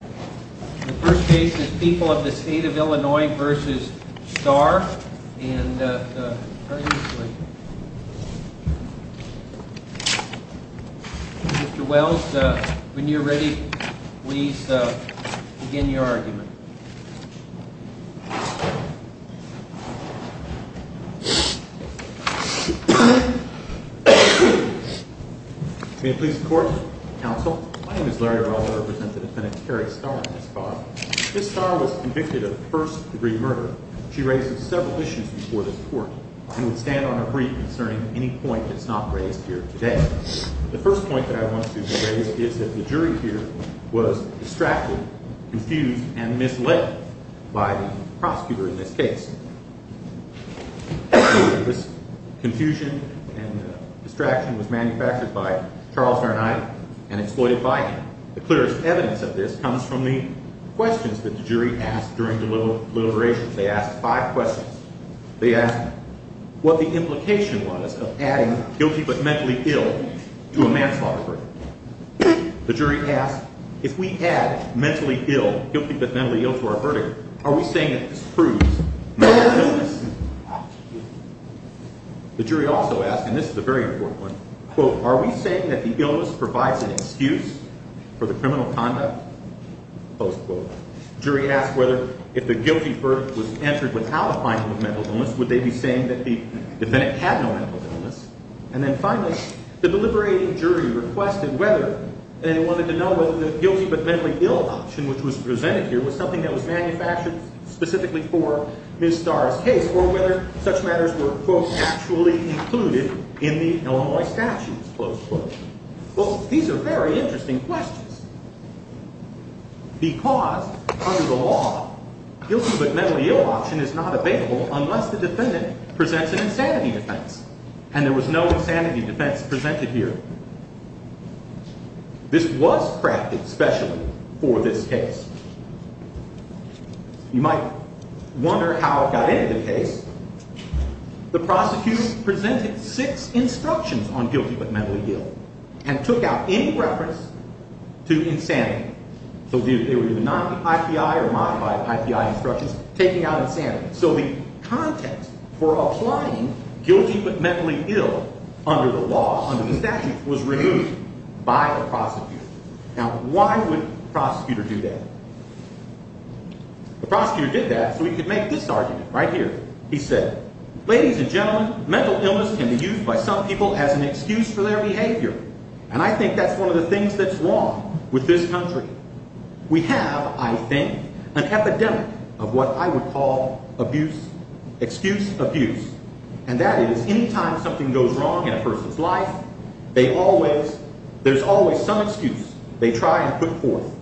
The first case is People of the State of Illinois v. Starr, and Mr. Wells, when you're ready, please begin your argument. May it please the Court? Counsel. My name is Larry Araldo. I represent the defendant Karrae Starr v. Starr. Ms. Starr was convicted of first-degree murder. She raised several issues before this Court. I would stand on her brief concerning any point that's not raised here today. The first point that I want to raise is that the jury here was distracted, confused, and misled by the prosecutor in this case. This confusion and distraction was manufactured by Charles Verneye and exploited by him. The clearest evidence of this comes from the questions that the jury asked during deliberations. They asked five questions. They asked what the implication was of adding guilty but mentally ill to a manslaughter verdict. The jury asked, if we add mentally ill, guilty but mentally ill, to our verdict, are we saying that this proves mental illness? The jury also asked, and this is a very important one, quote, are we saying that the illness provides an excuse for the criminal conduct? Close quote. The jury asked whether, if the guilty verdict was entered without a finding of mental illness, would they be saying that the defendant had no mental illness? And then finally, the deliberating jury requested whether they wanted to know whether the guilty but mentally ill option, which was presented here, was something that was manufactured specifically for Ms. Starr's case, or whether such matters were, quote, actually included in the Illinois statutes. Close quote. Well, these are very interesting questions because, under the law, guilty but mentally ill option is not available unless the defendant presents an insanity defense. And there was no insanity defense presented here. This was crafted specially for this case. You might wonder how it got into the case. The prosecutor presented six instructions on guilty but mentally ill and took out any reference to insanity. So they were either non-IPI or modified IPI instructions taking out insanity. So the context for applying guilty but mentally ill under the law, under the statutes, was removed by the prosecutor. Now, why would the prosecutor do that? The prosecutor did that so he could make this argument right here. He said, ladies and gentlemen, mental illness can be used by some people as an excuse for their behavior. And I think that's one of the things that's wrong with this country. We have, I think, an epidemic of what I would call abuse, excuse abuse. And that is, any time something goes wrong in a person's life, they always, there's always some excuse they try and put forth.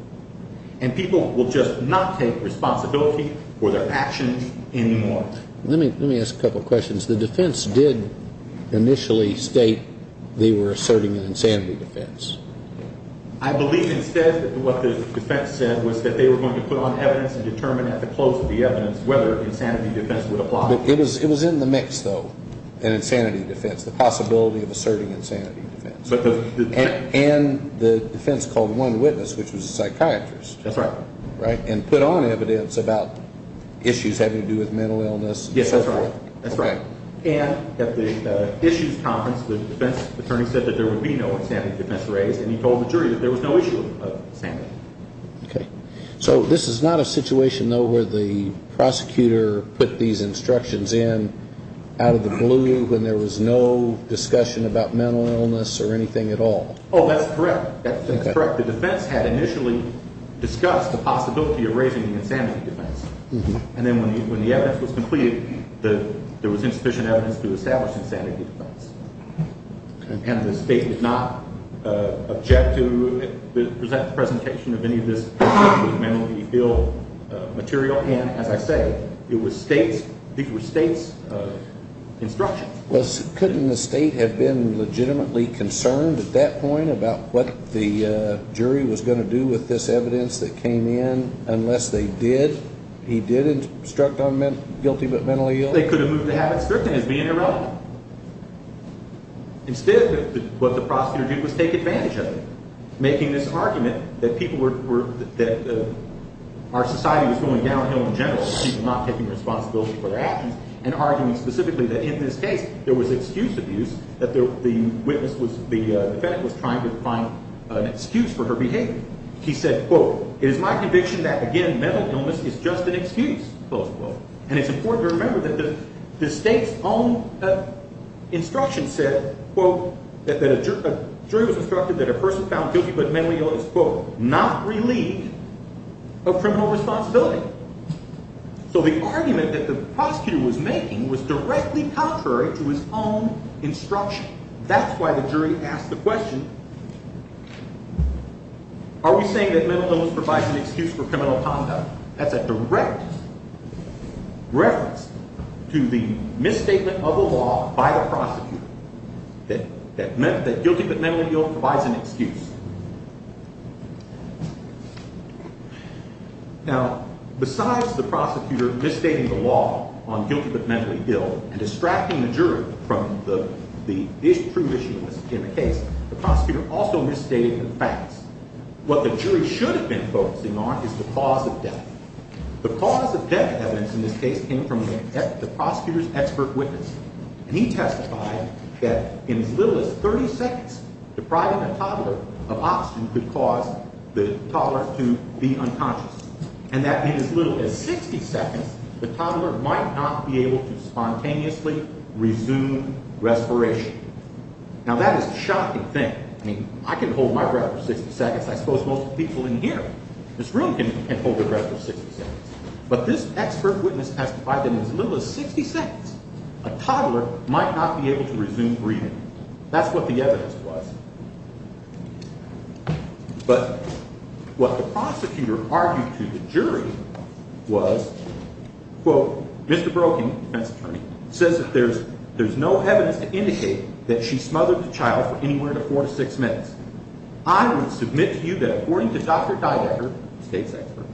And people will just not take responsibility for their actions anymore. Let me ask a couple of questions. The defense did initially state they were asserting an insanity defense. I believe instead that what the defense said was that they were going to put on evidence and determine at the close of the evidence whether an insanity defense would apply. It was in the mix, though, an insanity defense, the possibility of asserting an insanity defense. And the defense called one witness, which was a psychiatrist. That's right. And put on evidence about issues having to do with mental illness. Yes, that's right. And at the issues conference, the defense attorney said that there would be no insanity defense raised. And he told the jury that there was no issue of insanity. Okay. So this is not a situation, though, where the prosecutor put these instructions in out of the blue when there was no discussion about mental illness or anything at all? Oh, that's correct. That's correct. The defense had initially discussed the possibility of raising the insanity defense. And then when the evidence was completed, there was insufficient evidence to establish an insanity defense. And the state did not object to the presentation of any of this mentally ill material. And, as I say, these were state's instructions. Couldn't the state have been legitimately concerned at that point about what the jury was going to do with this evidence that came in unless they did? He did instruct on guilty but mentally ill? They could have moved the habit scripting as being irrelevant. Instead, what the prosecutor did was take advantage of it, making this argument that our society was going downhill in general. She was not taking responsibility for her actions and arguing specifically that in this case there was excused abuse, that the witness was – the defendant was trying to find an excuse for her behavior. He said, quote, it is my conviction that, again, mental illness is just an excuse, close quote. And it's important to remember that the state's own instruction said, quote, that a jury was instructed that a person found guilty but mentally ill is, quote, not relieved of criminal responsibility. So the argument that the prosecutor was making was directly contrary to his own instruction. That's why the jury asked the question, are we saying that mental illness provides an excuse for criminal conduct? That's a direct reference to the misstatement of the law by the prosecutor that guilty but mentally ill provides an excuse. Now, besides the prosecutor misstating the law on guilty but mentally ill and distracting the jury from the true issue in the case, the prosecutor also misstated the facts. What the jury should have been focusing on is the cause of death. The cause of death evidence in this case came from the prosecutor's expert witness. And he testified that in as little as 30 seconds, depriving a toddler of oxygen could cause the toddler to be unconscious. And that in as little as 60 seconds, the toddler might not be able to spontaneously resume respiration. Now, that is a shocking thing. I mean, I can hold my breath for 60 seconds. I suppose most people in here, this room can hold their breath for 60 seconds. But this expert witness testified that in as little as 60 seconds, a toddler might not be able to resume breathing. That's what the evidence was. But what the prosecutor argued to the jury was, quote, Mr. Broeking, defense attorney, says that there's no evidence to indicate that she smothered the child for anywhere from four to six minutes. I would submit to you that according to Dr. Didecker, the state's expert,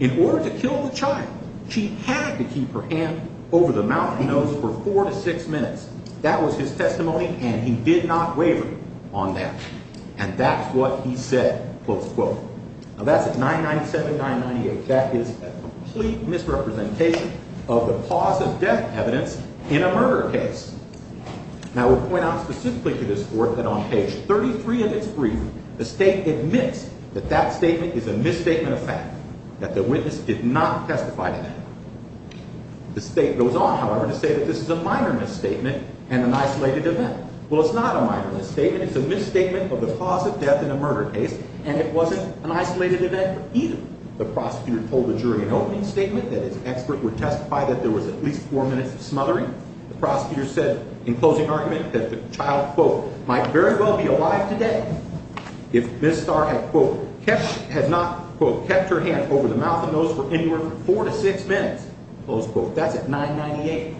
in order to kill the child, she had to keep her hand over the mouth and nose for four to six minutes. That was his testimony, and he did not waver on that. And that's what he said, close quote. Now, that's at 997-998. That is a complete misrepresentation of the cause of death evidence in a murder case. Now, I will point out specifically to this court that on page 33 of its briefing, the state admits that that statement is a misstatement of fact, that the witness did not testify to that. The state goes on, however, to say that this is a minor misstatement and an isolated event. Well, it's not a minor misstatement. It's a misstatement of the cause of death in a murder case, and it wasn't an isolated event either. The prosecutor told the jury in opening statement that his expert would testify that there was at least four minutes of smothering. The prosecutor said in closing argument that the child, quote, might very well be alive today if Ms. Starr had, quote, kept her hand over the mouth and nose for anywhere from four to six minutes, close quote. That's at 998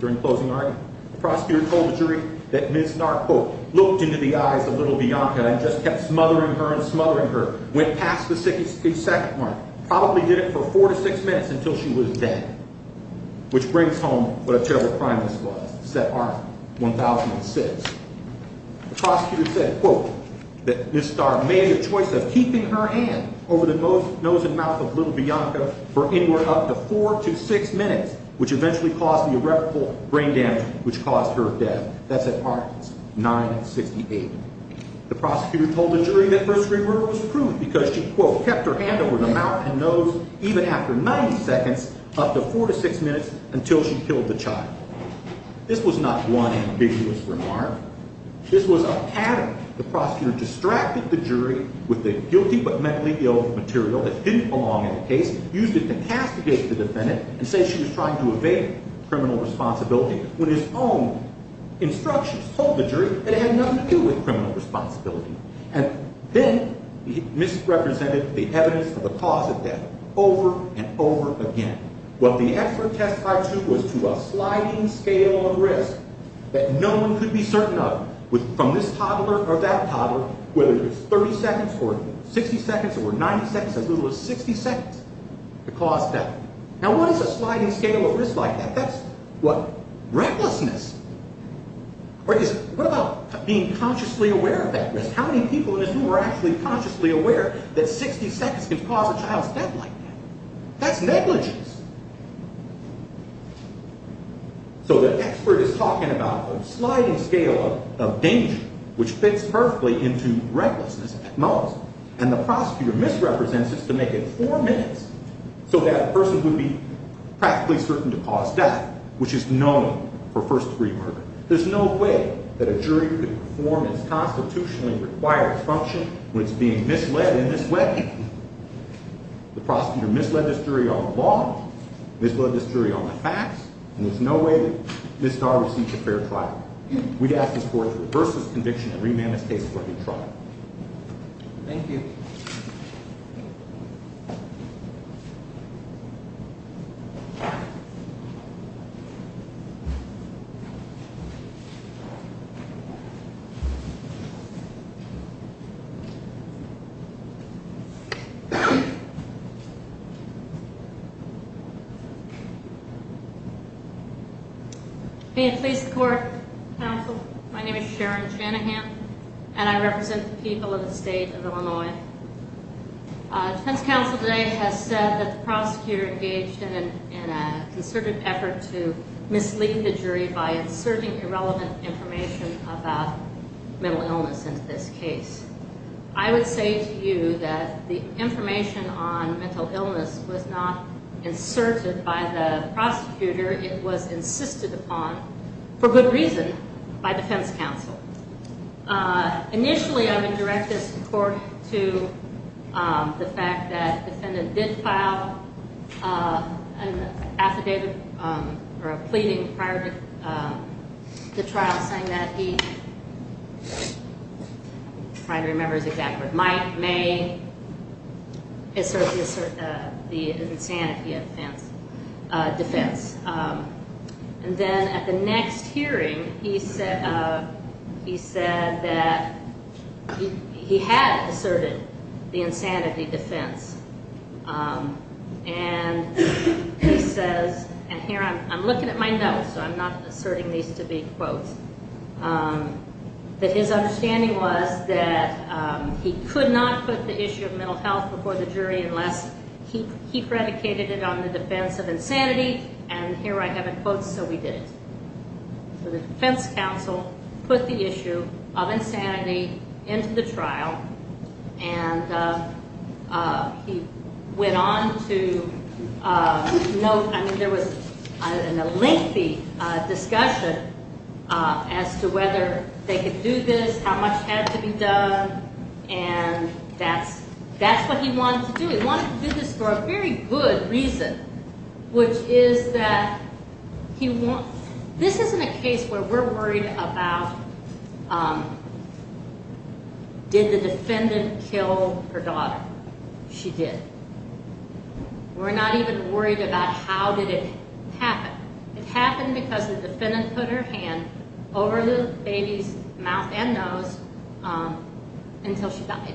during closing argument. The prosecutor told the jury that Ms. Starr, quote, looked into the eyes of little Bianca and just kept smothering her and smothering her, went past the second one, probably did it for four to six minutes until she was dead, which brings home what a terrible crime this was, said Art, 1006. The prosecutor said, quote, that Ms. Starr made the choice of keeping her hand over the nose and mouth of little Bianca for anywhere up to four to six minutes, which eventually caused the irreparable brain damage which caused her death. That's at Art, 968. The prosecutor told the jury that her screamer was proved because she, quote, kept her hand over the mouth and nose even after 90 seconds up to four to six minutes until she killed the child. This was not one ambiguous remark. This was a pattern. The prosecutor distracted the jury with the guilty but mentally ill material that didn't belong in the case, used it to castigate the defendant, and said she was trying to evade criminal responsibility when his own instructions told the jury that it had nothing to do with criminal responsibility. And then he misrepresented the evidence for the cause of death over and over again. What the expert testified to was to a sliding scale of risk that no one could be certain of from this toddler or that toddler, whether it was 30 seconds or 60 seconds or 90 seconds, as little as 60 seconds, to cause death. Now, what is a sliding scale of risk like that? That's what recklessness is. What about being consciously aware of that risk? How many people in this room are actually consciously aware that 60 seconds can cause a child's death like that? That's negligence. So the expert is talking about a sliding scale of danger, which fits perfectly into recklessness at most. And the prosecutor misrepresents this to make it four minutes so that a person would be practically certain to cause death, which is known for first-degree murder. There's no way that a jury could perform its constitutionally required function when it's being misled in this way. The prosecutor misled this jury on the law, misled this jury on the facts, and there's no way that Ms. Dar received a fair trial. We'd ask the court to reverse this conviction and remand this case for a new trial. Thank you. May it please the court. Counsel, my name is Sharon Shanahan, and I represent the people of the state of Illinois. Defense counsel today has said that the prosecutor engaged in a concerted effort to mislead the jury by inserting irrelevant information about mental illness into this case. I would say to you that the information on mental illness was not inserted by the prosecutor. It was insisted upon, for good reason, by defense counsel. Initially, I would direct this court to the fact that the defendant did file an affidavit or a pleading prior to the trial, saying that he tried to remember his exact words. Might, may, assert the insanity defense. And then at the next hearing, he said that he had asserted the insanity defense. And he says, and here I'm looking at my notes, so I'm not asserting these to be quotes, that his understanding was that he could not put the issue of mental health before the jury unless he predicated it on the defense of insanity. And here I have a quote, so we did it. So the defense counsel put the issue of insanity into the trial. And he went on to note, I mean, there was a lengthy discussion as to whether they could do this, how much had to be done. And that's what he wanted to do. He wanted to do this for a very good reason, which is that this isn't a case where we're worried about did the defendant kill her daughter. She did. We're not even worried about how did it happen. It happened because the defendant put her hand over the baby's mouth and nose until she died.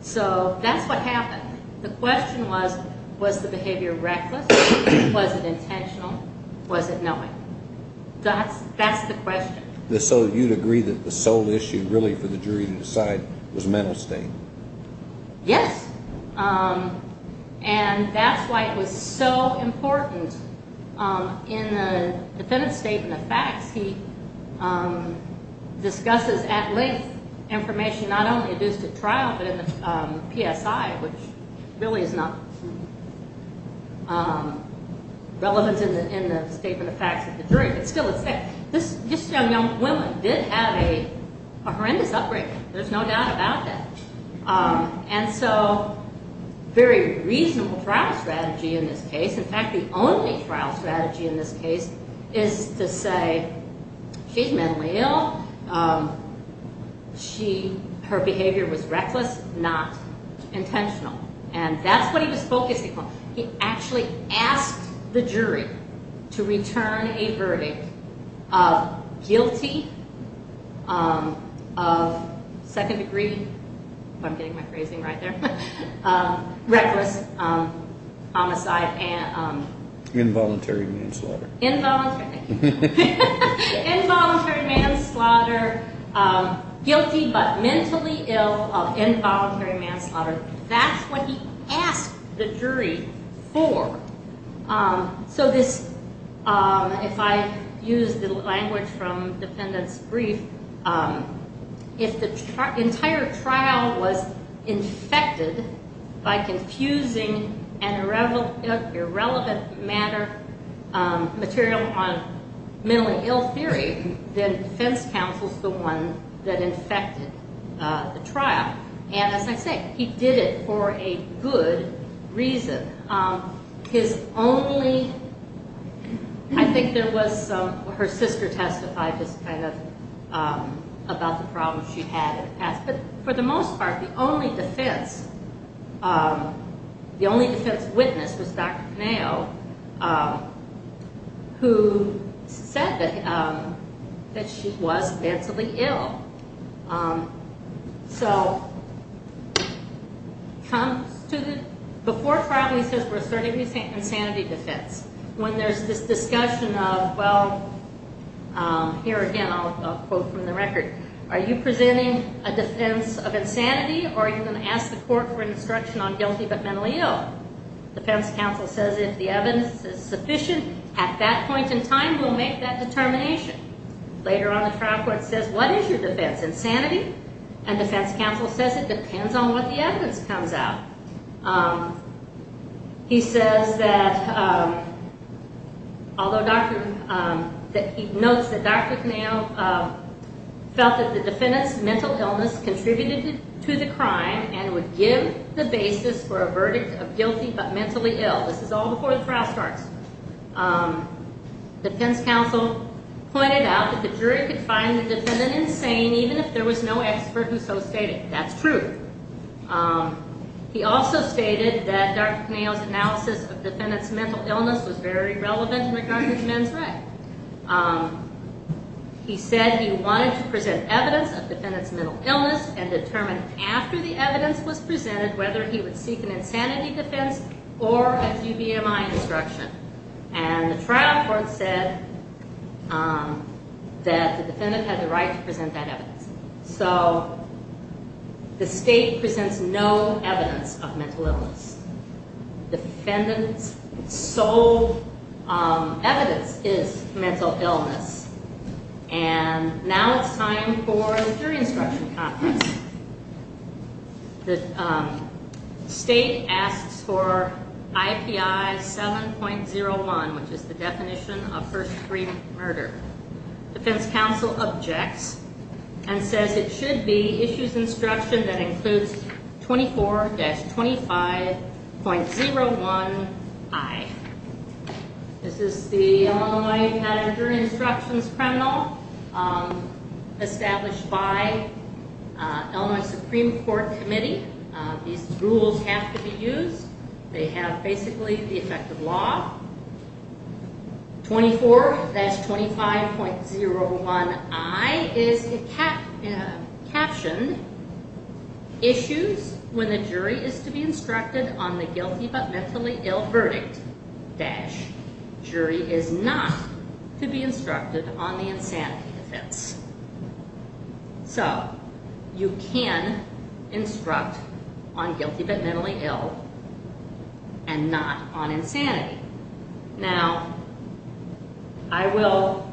So that's what happened. The question was, was the behavior reckless? Was it intentional? Was it knowing? That's the question. So you'd agree that the sole issue really for the jury to decide was mental state? Yes. He discusses at length information not only due to trial but in the PSI, which really is not relevant in the statement of facts of the jury, but still it's there. This young woman did have a horrendous upbringing. There's no doubt about that. And so very reasonable trial strategy in this case. In fact, the only trial strategy in this case is to say she's mentally ill. Her behavior was reckless, not intentional. And that's what he was focusing on. He actually asked the jury to return a verdict of guilty of second degree, if I'm getting my phrasing right there, reckless homicide and involuntary manslaughter. Involuntary. Involuntary manslaughter. Guilty but mentally ill of involuntary manslaughter. That's what he asked the jury for. So this, if I use the language from defendant's brief, if the entire trial was infected by confusing an irrelevant matter, material on mentally ill theory, then defense counsel is the one that infected the trial. And as I say, he did it for a good reason. His only, I think there was some, her sister testified just kind of about the problems she had in the past. But for the most part, the only defense, the only defense witness was Dr. Penao, who said that she was mentally ill. So before trial, he says we're starting with insanity defense. When there's this discussion of, well, here again, I'll quote from the record, are you presenting a defense of insanity or are you going to ask the court for instruction on guilty but mentally ill? Defense counsel says if the evidence is sufficient at that point in time, we'll make that determination. Later on, the trial court says what is your defense? Insanity? And defense counsel says it depends on what the evidence comes out. He says that although Dr., that he notes that Dr. Penao felt that the defendant's mental illness contributed to the crime and would give the basis for a verdict of guilty but mentally ill. This is all before the trial starts. Defense counsel pointed out that the jury could find the defendant insane even if there was no expert who so stated. That's true. He also stated that Dr. Penao's analysis of the defendant's mental illness was very relevant in regards to men's rights. He said he wanted to present evidence of the defendant's mental illness and determine after the evidence was presented whether he would seek an insanity defense or a GVMI instruction. And the trial court said that the defendant had the right to present that evidence. So the state presents no evidence of mental illness. The defendant's sole evidence is mental illness. And now it's time for the jury instruction conference. The state asks for IPI 7.01, which is the definition of first degree murder. Defense counsel objects and says it should be issues instruction that includes 24-25.01I. This is the Illinois Patent and Jury Instructions Criminal established by Illinois Supreme Court Committee. These rules have to be used. They have basically the effect of law. 24-25.01I is captioned issues when the jury is to be instructed on the guilty but mentally ill verdict-jury is not to be instructed on the insanity defense. So you can instruct on guilty but mentally ill and not on insanity. Now, I will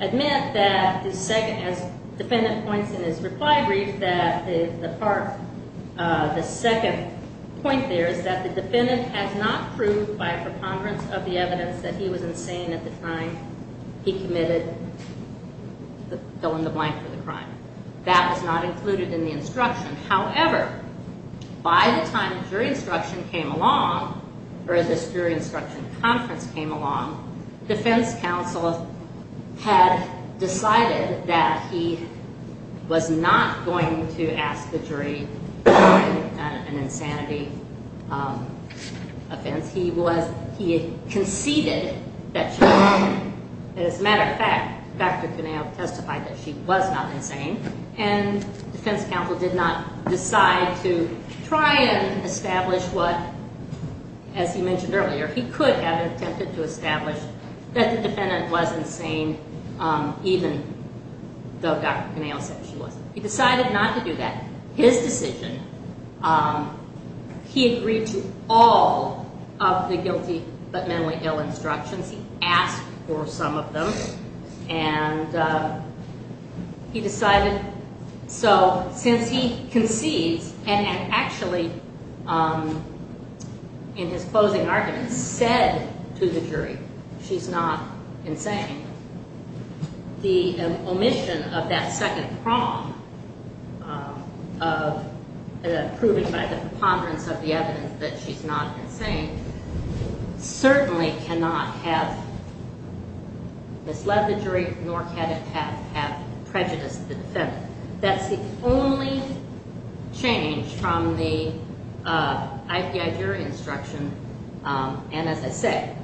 admit that as the defendant points in his reply brief that the second point there is that the defendant has not proved by preponderance of the evidence that he was insane at the time he committed the fill-in-the-blank for the crime. That was not included in the instruction. However, by the time the jury instruction came along or this jury instruction conference came along, defense counsel had decided that he was not going to ask the jury on an insanity offense. He conceded that she was insane. He did not decide to try and establish what, as he mentioned earlier, he could have attempted to establish that the defendant was insane even though Dr. Connell said she wasn't. He decided not to do that. His decision, he agreed to all of the guilty but mentally ill instructions. He asked for some of them. And he decided so since he concedes and actually in his closing argument said to the jury she's not insane, the omission of that second prong of proving by the preponderance of the evidence that she's not insane certainly cannot have misled him. It cannot have misled the jury nor can it have prejudiced the defendant. That's the only change from the IPI jury instruction. And as I say,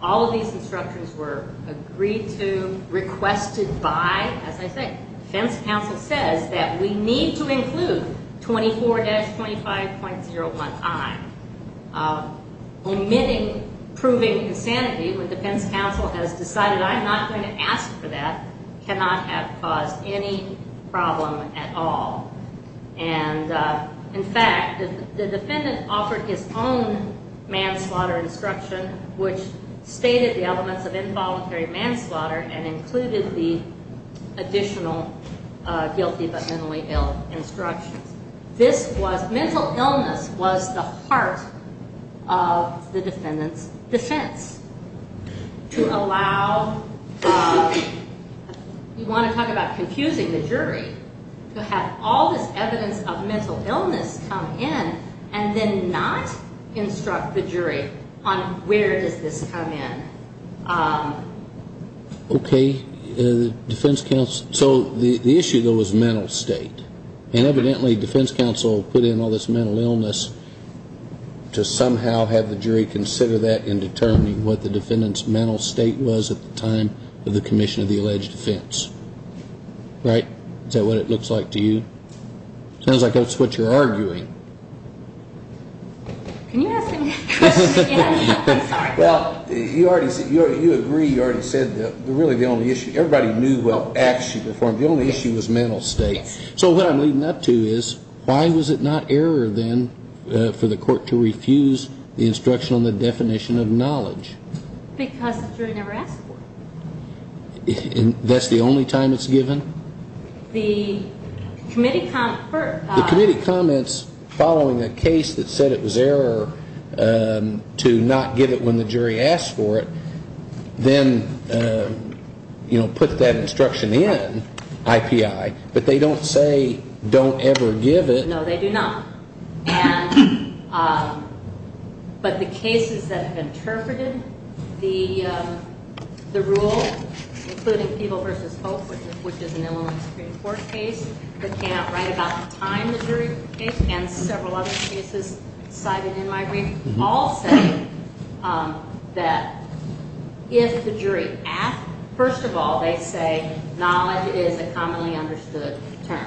all of these instructions were agreed to, requested by, as I say, defense counsel says that we need to include 24-25.01i. Omitting proving insanity when defense counsel has decided I'm not going to ask for that cannot have caused any problem at all. And in fact, the defendant offered his own manslaughter instruction which stated the elements of involuntary manslaughter and included the additional guilty but mentally ill instructions. This was mental illness was the heart of the defendant's defense. To allow, you want to talk about confusing the jury to have all this evidence of mental illness come in and then not instruct the jury on where does this come in. Okay. Defense counsel. So the issue though is mental state. And evidently defense counsel put in all this mental illness to somehow have the jury consider that in determining what the defendant's mental state was at the time of the commission of the alleged offense. Right? Is that what it looks like to you? Sounds like that's what you're arguing. Can you ask me that question again? Well, you agree you already said that really the only issue, everybody knew what acts she performed. The only issue was mental state. So what I'm leading up to is why was it not error then for the court to refuse the instruction on the definition of knowledge? Because the jury never asked for it. That's the only time it's given? The committee comments following a case that said it was error to not give it when the jury asked for it, then, you know, put that instruction in IPI. But they don't say don't ever give it. No, they do not. But the cases that have interpreted the rule, including People v. Hope, which is an Illinois Supreme Court case that came out right about the time the jury came, and several other cases cited in my brief, all say that if the jury asked, first of all, they say knowledge is a commonly understood term.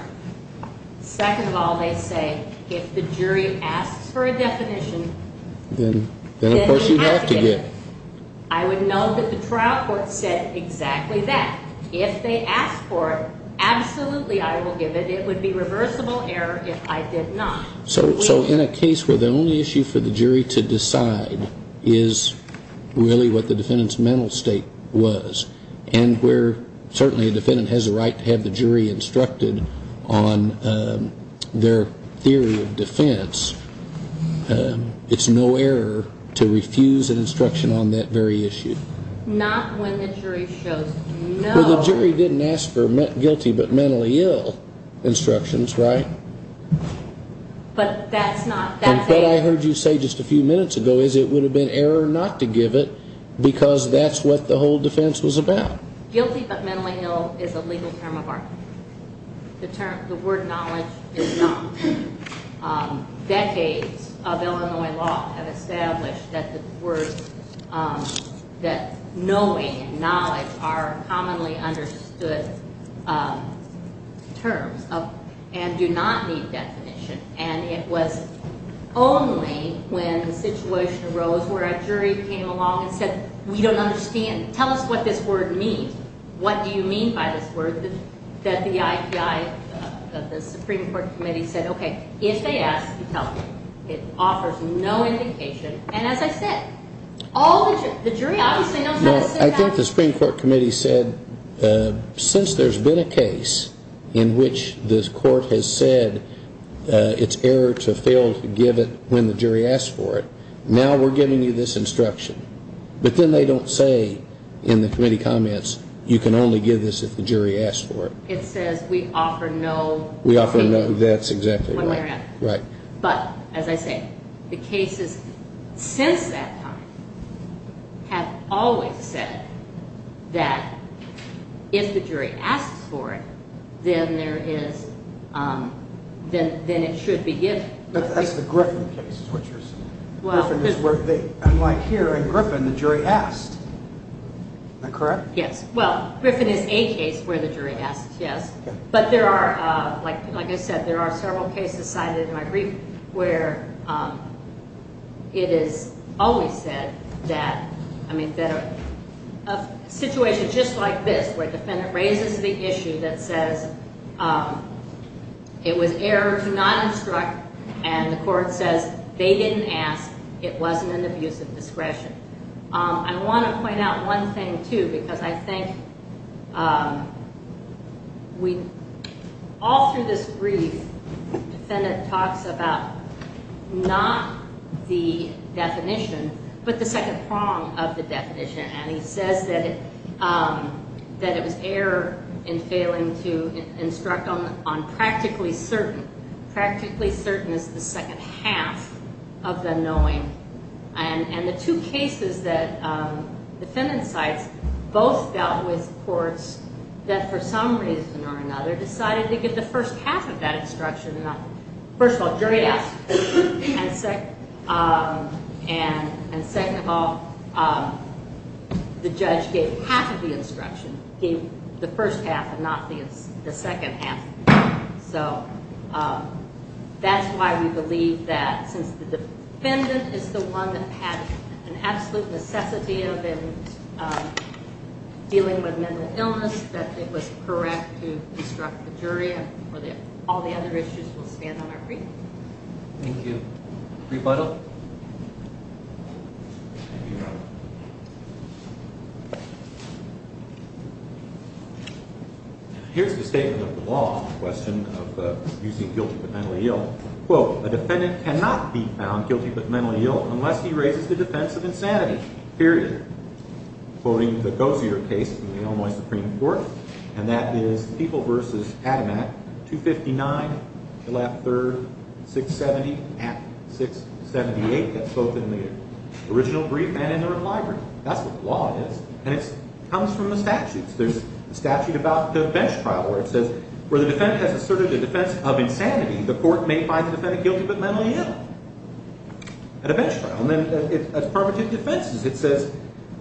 Second of all, they say if the jury asks for a definition, then they have to give it. I would know that the trial court said exactly that. If they asked for it, absolutely I will give it. It would be reversible error if I did not. So in a case where the only issue for the jury to decide is really what the defendant's mental state was, and where certainly a defendant has a right to have the jury instructed on their theory of defense, it's no error to refuse an instruction on that very issue. Not when the jury shows no. Well, the jury didn't ask for guilty but mentally ill instructions, right? But that's not, that's error. What I heard you say just a few minutes ago is it would have been error not to give it because that's what the whole defense was about. Guilty but mentally ill is a legal term of argument. The term, the word knowledge is not. Decades of Illinois law have established that the word, that knowing and knowledge are commonly understood terms and do not need definition. And it was only when the situation arose where a jury came along and said, we don't understand. Tell us what this word means. What do you mean by this word that the IPI, the Supreme Court Committee said, okay, if they ask, you tell them. It offers no indication. And as I said, all the jury obviously knows how to say that. I think the Supreme Court Committee said since there's been a case in which this court has said it's error to fail to give it when the jury asks for it, now we're giving you this instruction. But then they don't say in the committee comments, you can only give this if the jury asks for it. It says we offer no indication. We offer no, that's exactly right. But as I say, the cases since that time have always said that if the jury asks for it, then there is, then it should be given. But that's the Griffin case is what you're saying. Griffin is where, unlike here in Griffin, the jury asked. Is that correct? Yes. Well, Griffin is a case where the jury asks, yes. But there are, like I said, there are several cases cited in my brief where it is always said that, I mean, a situation just like this where a defendant raises the issue that says it was error to not instruct, and the court says they didn't ask, it wasn't an abuse of discretion. I want to point out one thing, too, because I think we, all through this brief, the defendant talks about not the definition, but the second prong of the definition. And he says that it was error in failing to instruct on practically certain. Practically certain is the second half of the knowing. And the two cases that defendant cites both dealt with courts that, for some reason or another, decided to give the first half of that instruction. First of all, jury asked. And second of all, the judge gave half of the instruction, gave the first half and not the second half. So that's why we believe that since the defendant is the one that had an absolute necessity of dealing with mental illness, that it was correct to instruct the jury and all the other issues will stand on our brief. Thank you. Rebuttal? Thank you, Your Honor. Here's the statement of the law on the question of using guilty but mentally ill. Quote, a defendant cannot be found guilty but mentally ill unless he raises the defense of insanity, period. Quoting the Gozier case in the Illinois Supreme Court, and that is People v. Adomat, 259-3-670-678. That's both in the original brief and in the reply brief. That's what the law is, and it comes from the statutes. There's a statute about the bench trial where it says where the defendant has asserted the defense of insanity, the court may find the defendant guilty but mentally ill at a bench trial. And then it's affirmative defenses. It says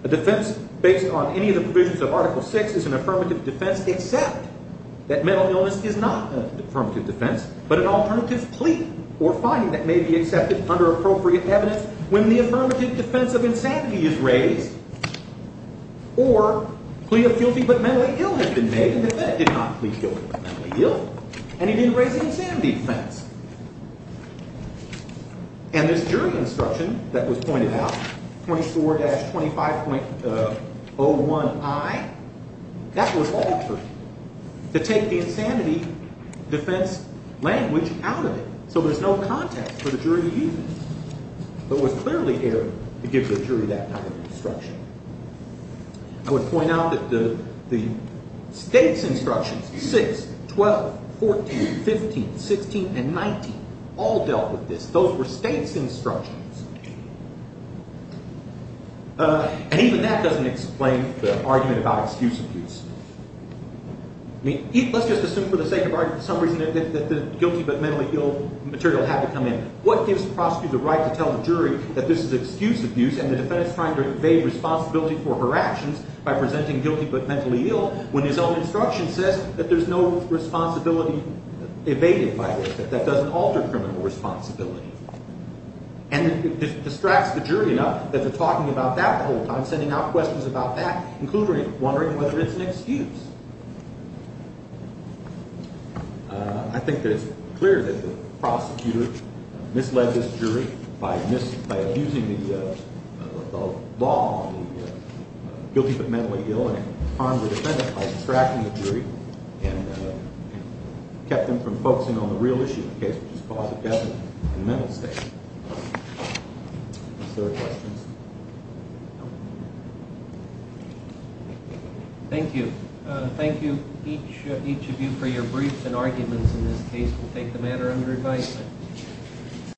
a defense based on any of the provisions of Article VI is an affirmative defense except that mental illness is not an affirmative defense but an alternative plea or finding that may be accepted under appropriate evidence when the affirmative defense of insanity is raised or plea of guilty but mentally ill has been made. The defendant did not plea guilty but mentally ill, and he didn't raise the insanity defense. And this jury instruction that was pointed out, 24-25.01i, that was altered to take the insanity defense language out of it so there's no context for the jury to use it. But it was clearly here to give the jury that kind of instruction. I would point out that the state's instructions, 6, 12, 14, 15, 16, and 19, all dealt with this. Those were state's instructions. And even that doesn't explain the argument about excuse abuse. I mean, let's just assume for the sake of argument for some reason that the guilty but mentally ill material had to come in. What gives the prosecutor the right to tell the jury that this is excuse abuse and the defendant's trying to evade responsibility for her actions by presenting guilty but mentally ill when his own instruction says that there's no responsibility evaded by it, that that doesn't alter criminal responsibility? And it distracts the jury enough that they're talking about that the whole time, sending out questions about that, including wondering whether it's an excuse. I think that it's clear that the prosecutor misled this jury by abusing the law on the guilty but mentally ill and harmed the defendant by distracting the jury and kept them from focusing on the real issue of the case, which is the cause of death and mental state. Thank you. Thank you, each of you, for your briefs and arguments in this case. We'll take the matter under advisement.